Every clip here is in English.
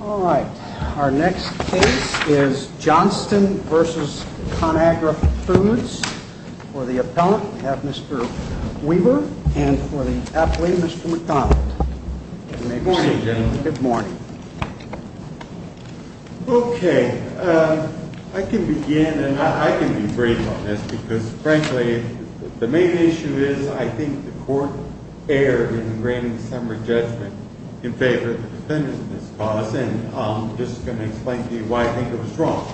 All right, our next case is Johnston v. ConAgra Foods. For the appellant, we have Mr. Weaver, and for the athlete, Mr. McDonald. Good morning, gentlemen. Good morning. Okay, I can begin, and I can be brief on this because, frankly, the main issue is I think the court erred in granting the summary judgment in favor of the defendants in this cause, and I'm just going to explain to you why I think it was wrong.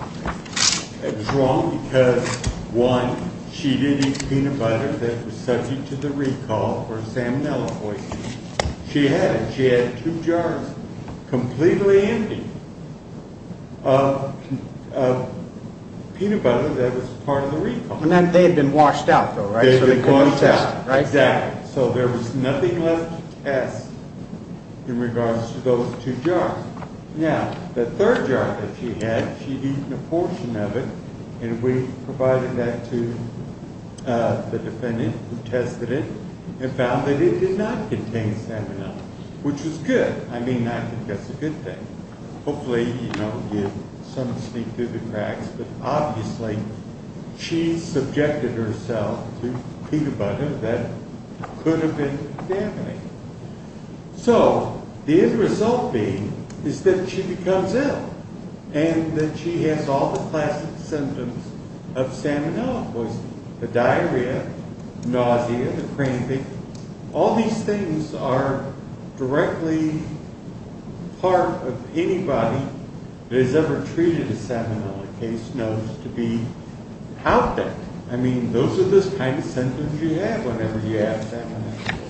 It was wrong because, one, she did eat peanut butter that was subject to the recall for salmonella poisoning. She had it. She had two jars completely empty of peanut butter that was part of the recall. And then they had been washed out, though, right? So they couldn't be tested, right? Exactly. So there was nothing left to test in regards to those two jars. Now, the third jar that she had, she'd eaten a portion of it, and we provided that to the defendant who tested it and found that it did not contain salmonella, which was good. I mean, I think that's a good thing. Hopefully, you know, you didn't sneak through the cracks, but obviously she subjected herself to peanut butter that could have been contaminated. So, the end result being is that she becomes ill and that she has all the classic symptoms of salmonella poisoning. The diarrhea, nausea, the cramping, all these things are directly part of anybody that has ever treated a salmonella case knows to be out there. I mean, those are the kind of symptoms you have whenever you have salmonella.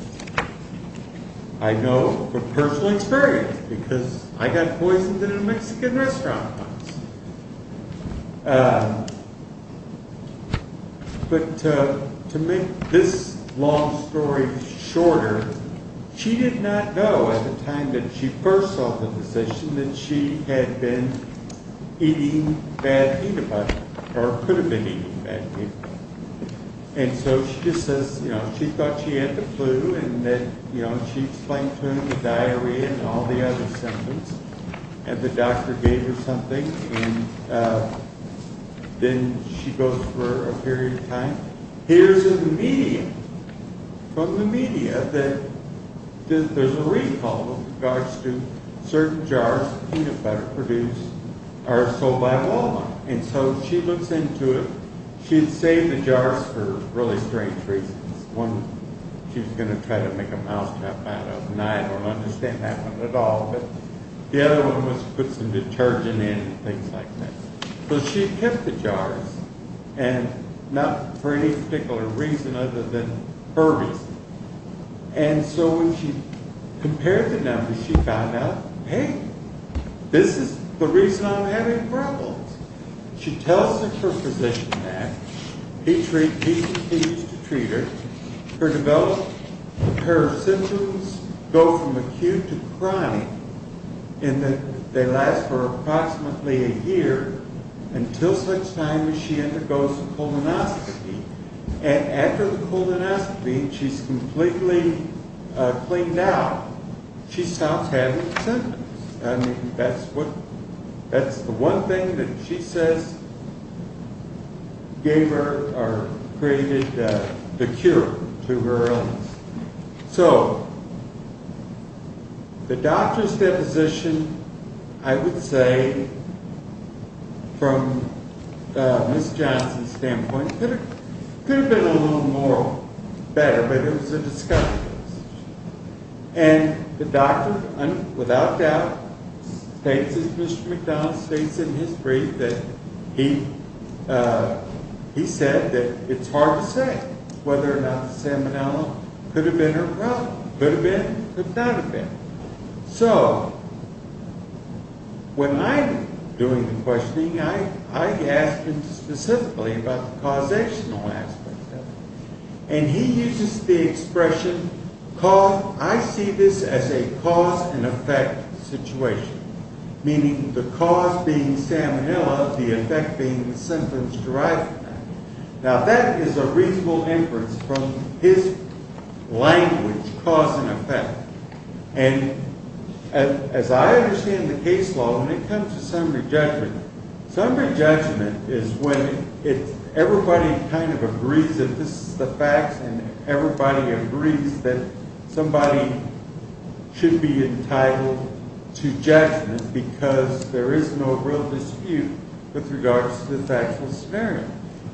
I know from personal experience, because I got poisoned in a Mexican restaurant once. But to make this long story shorter, she did not know at the time that she first saw the physician that she had been eating bad peanut butter, or could have been eating bad peanut butter. And so, she just says, you know, she thought she had the clue, and then, you know, she explained to him the diarrhea and all the other symptoms, and the doctor gave her something, and then she goes for a period of time. Here's the media. From the media, there's a recall with regards to certain jars of peanut butter produced are sold by a woman. And so, she looks into it. She had saved the jars for really strange reasons. One, she was going to try to make a mousetrap out of, and I don't understand that one at all, but the other one was to put some detergent in and things like that. So, she pipped the jars, and not for any particular reason other than her reason. And so, when she compared the numbers, she found out, hey, this is the reason I'm having problems. She tells her physician that. He continues to treat her. Her symptoms go from acute to chronic, and they last for approximately a year, until such time as she undergoes a colonoscopy. And after the colonoscopy, she's completely cleaned out. She stops having symptoms. I mean, that's the one thing that she says gave her or created the cure to her illness. So, the doctor's deposition, I would say, from Ms. Johnson's standpoint, could have been a little more better, but it was a discovery. And the doctor, without doubt, states, as Mr. McDonald states in his brief, that he said that it's hard to say whether or not Salmonella could have been her problem. Could have been, could not have been. So, when I'm doing the questioning, I ask him specifically about the causational aspect of it. And he uses the expression, I see this as a cause and effect situation. Meaning, the cause being Salmonella, the effect being the symptoms derived from that. Now, that is a reasonable inference from his language, cause and effect. And, as I understand the case law, when it comes to summary judgment, summary judgment is when everybody kind of agrees that this is the facts, and everybody agrees that somebody should be entitled to judgment because there is no real dispute with regards to the factual scenario.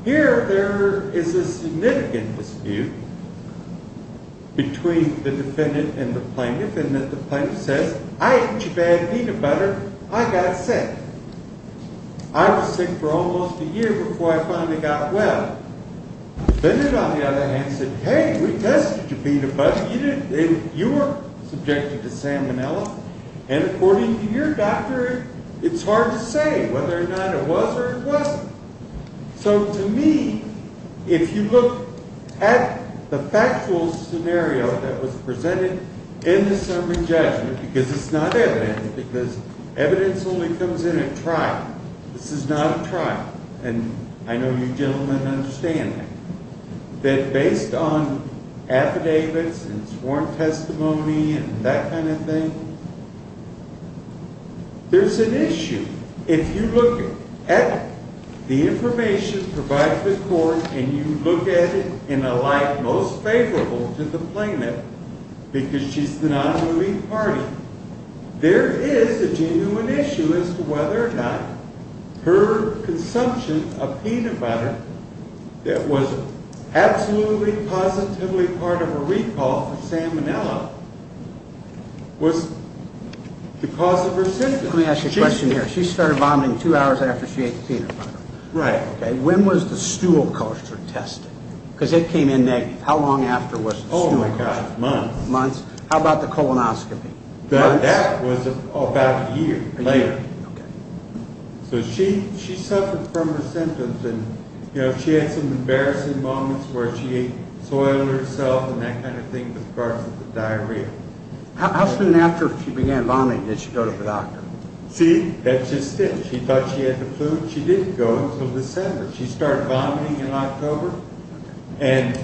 Here, there is a significant dispute between the defendant and the plaintiff, in that the plaintiff says, I ate too bad peanut butter, I got sick. I was sick for almost a year before I finally got well. The defendant, on the other hand, said, hey, we tested your peanut butter, you were subjected to Salmonella, and according to your doctor, it's hard to say whether or not it was or it wasn't. So, to me, if you look at the factual scenario that was presented in the summary judgment, because it's not evident, because evidence only comes in at trial, this is not a trial, and I know you gentlemen understand that, that based on affidavits and sworn testimony and that kind of thing, there's an issue. If you look at the information provided to the court and you look at it in a light most favorable to the plaintiff, because she's the nonbelief party, there is a genuine issue as to whether or not her consumption of peanut butter that was absolutely positively part of her recall for Salmonella was the cause of her symptoms. Let me ask you a question here. She started vomiting two hours after she ate the peanut butter. Right. Okay. When was the stool culture tested? Because it came in negative. How long after was the stool culture? Oh, my gosh, months. Months. How about the colonoscopy? That was about a year later. A year. Okay. So she suffered from her symptoms, and, you know, she had some embarrassing moments where she soiled herself and that kind of thing because of the diarrhea. How soon after she began vomiting did she go to the doctor? See, that's just it. She thought she had the flu. She didn't go until December. She started vomiting in October, and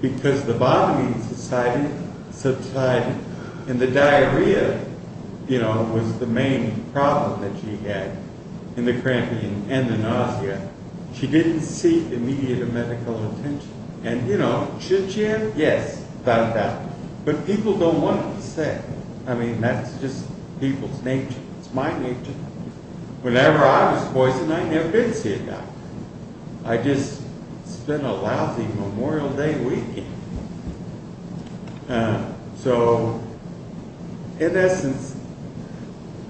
because the vomiting subsided and the diarrhea, you know, was the main problem that she had and the cramping and the nausea, she didn't seek immediate medical attention. And, you know, should she have? Yes, without a doubt. But people don't want to say. I mean, that's just people's nature. It's my nature. Whenever I was poisoned, I never did see a doctor. I just spent a lousy Memorial Day weekend. So, in essence,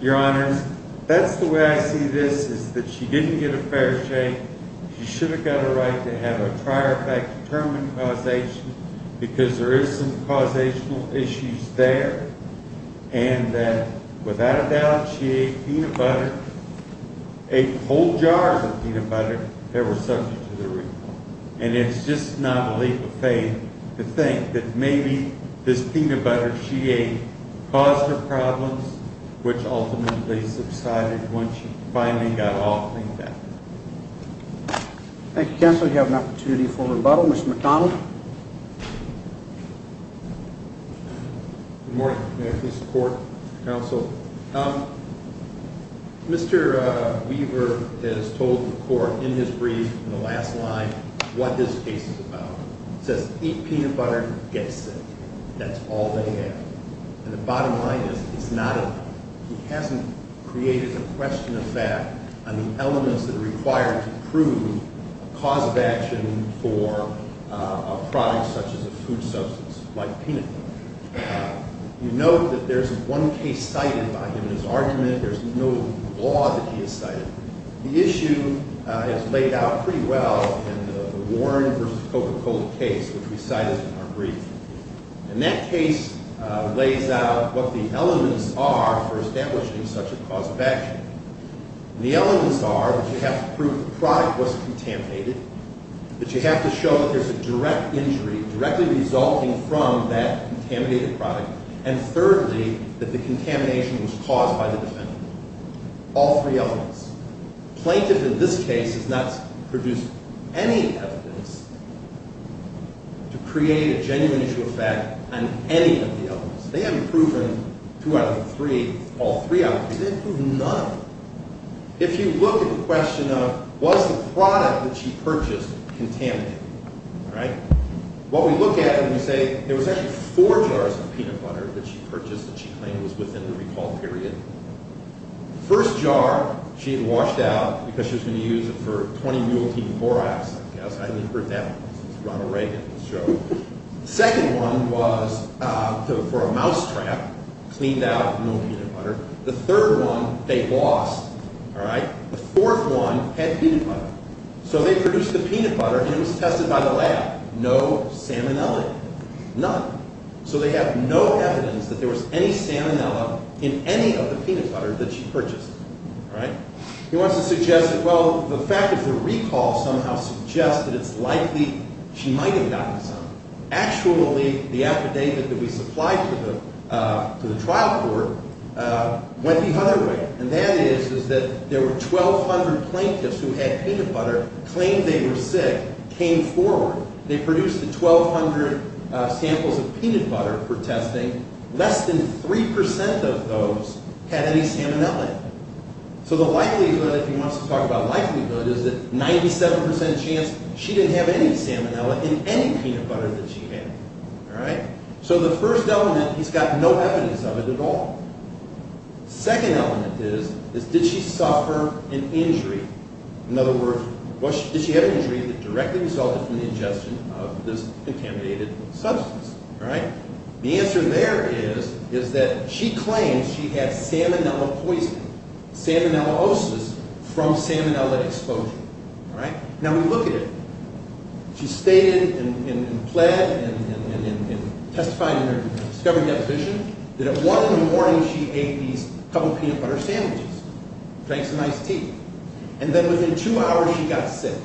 Your Honors, that's the way I see this, is that she didn't get a fair shake. She should have got a right to have a prior fact-determined causation because there is some causational issues there, and that, without a doubt, she ate peanut butter, ate whole jars of peanut butter that were subject to the report. And it's just not a leap of faith to think that maybe this peanut butter she ate caused her problems, which ultimately subsided once she finally got off the infected. Thank you, Counselor. We have an opportunity for rebuttal. Mr. McDonnell. Good morning. May I please report, Counsel? Mr. Weaver has told the Court in his brief, in the last line, what his case is about. It says, eat peanut butter, get sick. That's all they have. And the bottom line is, he hasn't created a question of fact on the elements that are required to prove a cause of action for a product such as a food substance like peanut butter. You note that there's one case cited by him in his argument. There's no law that he has cited. The issue is laid out pretty well in the Warren v. Coca-Cola case, which we cited in our brief. And that case lays out what the elements are for establishing such a cause of action. And the elements are that you have to prove the product wasn't contaminated, that you have to show that there's a direct injury directly resulting from that contaminated product, and thirdly, that the contamination was caused by the defendant. All three elements. Plaintiff, in this case, has not produced any evidence to create a genuine issue of fact on any of the elements. They haven't proven two out of the three, all three out there. They haven't proven none of them. If you look at the question of, was the product that she purchased contaminated, what we look at and we say, there was actually four jars of peanut butter that she purchased that she claimed was within the recall period. The first jar, she had washed out because she was going to use it for 20 mule team four hours, I guess. I hadn't even heard that one since Ronald Reagan. The second one was for a mousetrap, cleaned out mule peanut butter. The third one, they lost. The fourth one had peanut butter. So they produced the peanut butter and it was tested by the lab. No salmonella in it. None. So they have no evidence that there was any salmonella in any of the peanut butter that she purchased. He wants to suggest that, well, the fact of the recall somehow suggests that it's likely she might have gotten some. Actually, the affidavit that we supplied to the trial court went the other way. And that is that there were 1,200 plaintiffs who had peanut butter, claimed they were sick, came forward. They produced 1,200 samples of peanut butter for testing. Less than 3% of those had any salmonella in them. So the likelihood, if he wants to talk about likelihood, is that 97% chance she didn't have any salmonella in any peanut butter that she had. So the first element, he's got no evidence of it at all. Second element is, did she suffer an injury? In other words, did she have an injury that directly resulted from the ingestion of this contaminated substance? The answer there is that she claims she had salmonella poisoning, salmonellaosis, from salmonella exposure. Now we look at it. She stated and pled and testified in her discovery deposition that at one in the morning she ate these couple peanut butter sandwiches, drank some iced tea. And then within two hours she got sick.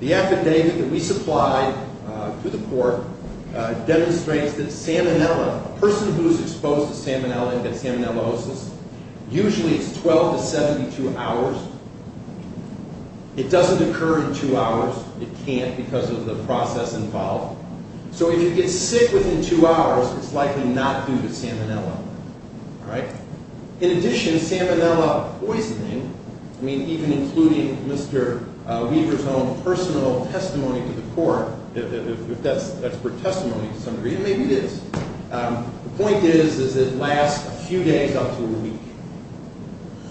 The affidavit that we supplied to the court demonstrates that salmonella, a person who is exposed to salmonella and got salmonellaosis, usually it's 12 to 72 hours. It doesn't occur in two hours. It can't because of the process involved. So if you get sick within two hours, it's likely not due to salmonella. In addition, salmonella poisoning, I mean, even including Mr. Weaver's own personal testimony to the court, if that's for testimony to some degree, maybe it is. The point is that it lasts a few days up to a week.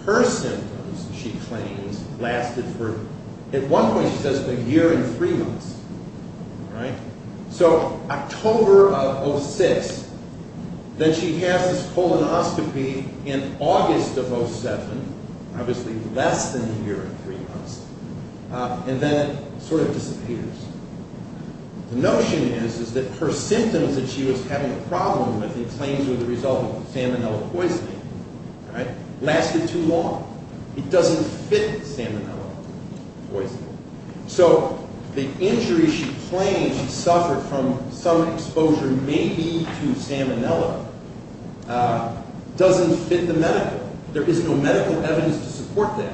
Her symptoms, she claims, lasted for, at one point she says a year and three months. So October of 06, then she has this colonoscopy in August of 07, obviously less than a year and three months. And then it sort of disappears. The notion is that her symptoms that she was having a problem with, she claims were the result of salmonella poisoning, lasted too long. It doesn't fit salmonella poisoning. So the injury she claims she suffered from some exposure maybe to salmonella doesn't fit the medical. There is no medical evidence to support that.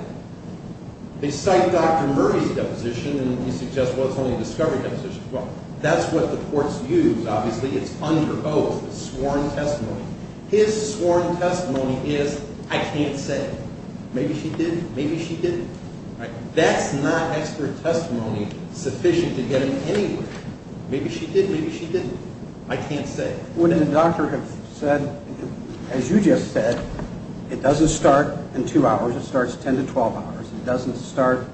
They cite Dr. Murphy's deposition, and he suggests, well, it's only a discovery deposition. Well, that's what the courts use. Obviously, it's under oath, it's sworn testimony. His sworn testimony is, I can't say. Maybe she did, maybe she didn't. That's not expert testimony sufficient to get him anywhere. Maybe she did, maybe she didn't. I can't say. Would a doctor have said, as you just said, it doesn't start in two hours, it starts 10 to 12 hours, it doesn't start,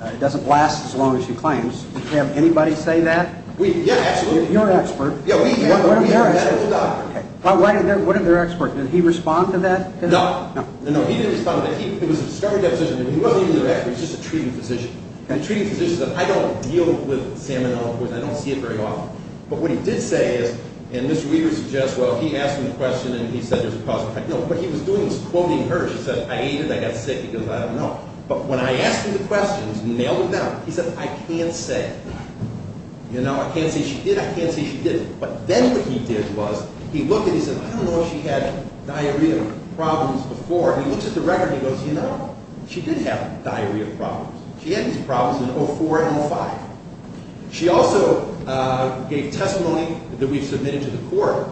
it doesn't last as long as she claims. Would you have anybody say that? Yeah, absolutely. You're an expert. Yeah, we are. What did their expert, did he respond to that? No. No. No, he didn't respond to that. It was a discovery deposition. He wasn't even their expert. He was just a treating physician. The treating physician said, I don't deal with salmonella poisoning. I don't see it very often. But what he did say is, and Mr. Weaver suggests, well, he asked him a question and he said there's a cause and effect. No, what he was doing was quoting her. She said, I ate it, I got sick. He goes, I don't know. But when I asked him the questions, nailed it down, he said, I can't say. You know, I can't say she did, I can't say she didn't. But then what he did was, he looked and he said, I don't know if she had diarrhea problems before. He looks at the record and he goes, you know, she did have diarrhea problems. She had these problems in 2004 and 2005. She also gave testimony that we've submitted to the court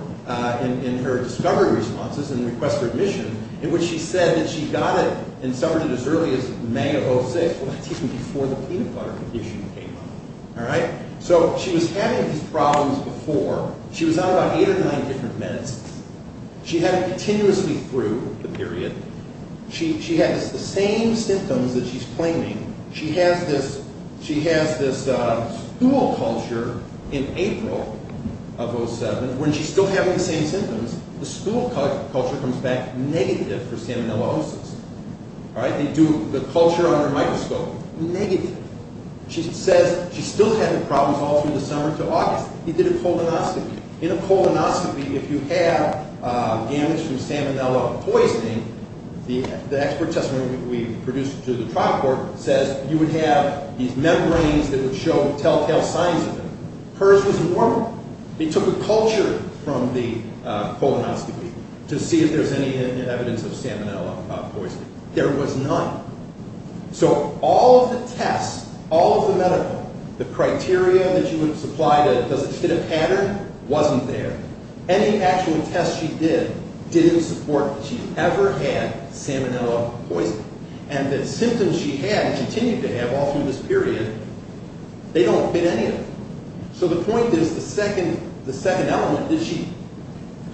in her discovery responses and request for admission, in which she said that she got it and suffered it as early as May of 2006. Well, that's even before the peanut butter condition came up. All right? So she was having these problems before. She was on about eight or nine different meds. She had it continuously through the period. She has the same symptoms that she's claiming. She has this stool culture in April of 2007. When she's still having the same symptoms, the stool culture comes back negative for salmonella osis. All right? They do the culture on her microscope. Negative. She says she still had the problems all through the summer to August. He did a colonoscopy. In a colonoscopy, if you have damage from salmonella poisoning, the expert testimony we produced to the trial court says you would have these membranes that would show telltale signs of it. Hers was normal. They took a culture from the colonoscopy to see if there was any evidence of salmonella poisoning. There was none. So all of the tests, all of the medical, the criteria that you would supply to see if it did a pattern, wasn't there. Any actual test she did didn't support that she ever had salmonella poisoning. And the symptoms she had and continued to have all through this period, they don't fit any of them. So the point is, the second element is she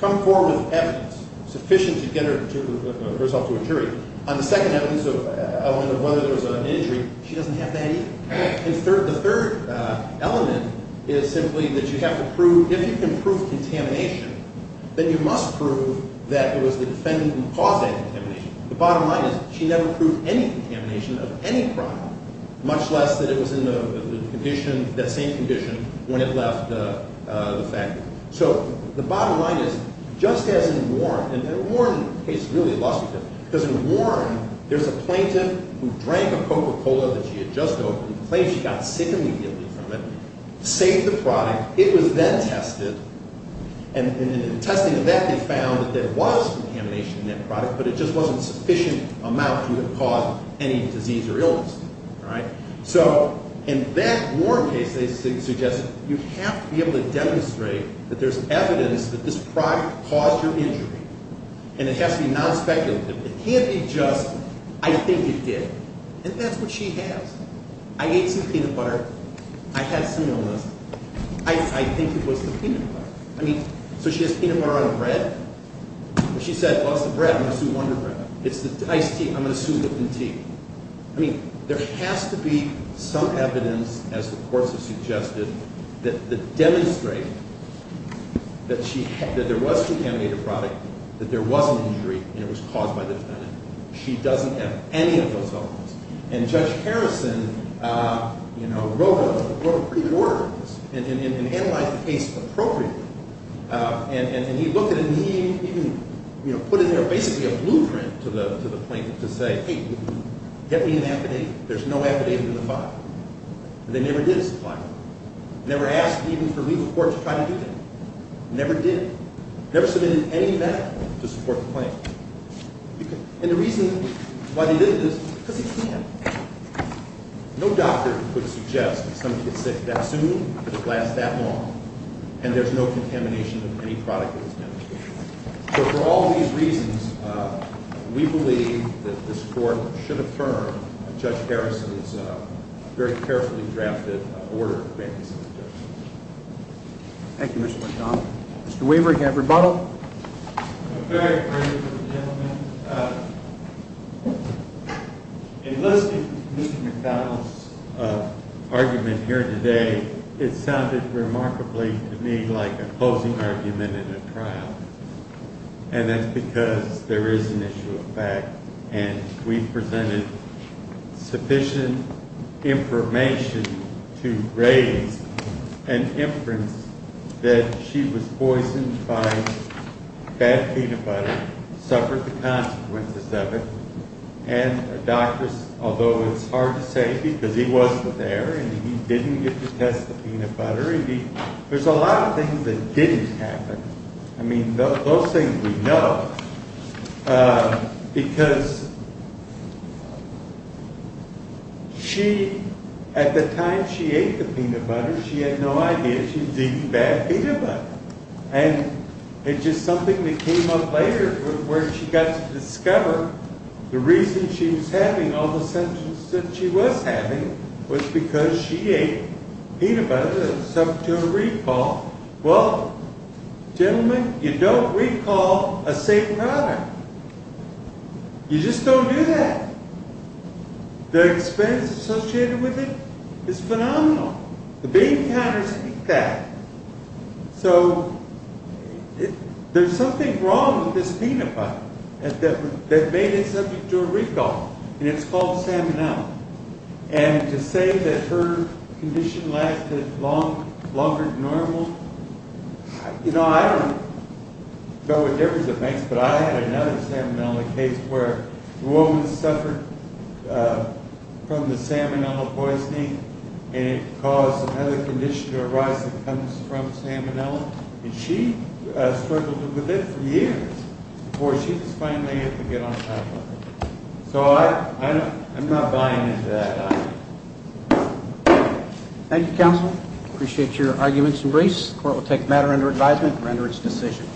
come forward with evidence sufficient to get herself to a jury. On the second element of whether there was an injury, she doesn't have that either. And the third element is simply that you have to prove, if you can prove contamination, then you must prove that it was the defendant who caused that contamination. The bottom line is she never proved any contamination of any crime, much less that it was in the condition, that same condition, when it left the factory. So the bottom line is, just as in Warren, and Warren case is really illustrative, because in Warren, there's a plaintiff who drank a Coca-Cola that she had just opened, claims she got sick immediately from it, saved the product, it was then tested, and in the testing of that, they found that there was contamination in that product, but it just wasn't a sufficient amount to have caused any disease or illness. So in that Warren case, they suggest you have to be able to demonstrate that there's evidence that this product caused her injury. And it has to be non-speculative. It can't be just, I think it did. And that's what she has. I ate some peanut butter. I had some illness. I think it was the peanut butter. I mean, so she has peanut butter on her bread. She said, I lost the bread. I'm going to sue Wonder Bread. It's the iced tea. I'm going to sue Whippen Tea. I mean, there has to be some evidence, as the courts have suggested, that demonstrate that there was contaminated product, that there was an injury, and it was caused by the defendant. She doesn't have any of those elements. And Judge Harrison, you know, wrote pretty words and analyzed the case appropriately, and he looked at it and he even, you know, put in there basically a blueprint to the plaintiff to say, hey, get me an affidavit. There's no affidavit in the file. They never did supply one. Never asked even for legal court to try to do that. Never did. Never submitted any medical to support the claim. And the reason why they didn't is because they can't. No doctor could suggest that somebody gets sick that soon, that it lasts that long, and there's no contamination of any product that was demonstrated. So for all these reasons, we believe that this Court should affirm Judge Harrison's very carefully drafted order. Thank you, Mr. McDonough. Mr. Weaver, can I have rebuttal? I'm very afraid of the gentleman. Enlisting Mr. McDonough's argument here today, it sounded remarkably to me like a closing argument in a trial, and that's because there is an issue of fact, and we've presented sufficient information to raise an inference that she was poisoned by bad peanut butter, suffered the consequences of it, and a doctor, although it's hard to say because he wasn't there and he didn't get to test the peanut butter, there's a lot of things that didn't happen. I mean, those things we know, because at the time she ate the peanut butter, she had no idea she was eating bad peanut butter. And it's just something that came up later where she got to discover the reason she was having all the symptoms that she was having was because she ate peanut butter that was subject to a recall. Well, gentlemen, you don't recall a safe product. You just don't do that. The expense associated with it is phenomenal. The bean counters eat that. So, there's something wrong with this peanut butter that made it subject to a recall, and it's called Salmonella. And to say that her condition lasted longer than normal, you know, I don't know what difference it makes, but I had another Salmonella case where the woman suffered from the Salmonella poisoning, and it caused another condition to arise that comes from Salmonella, and she struggled with it for years before she was finally able to get on top of it. So, I'm not buying into that. Thank you, counsel. I appreciate your arguments and briefs. The court will take the matter under advisement and render its decision.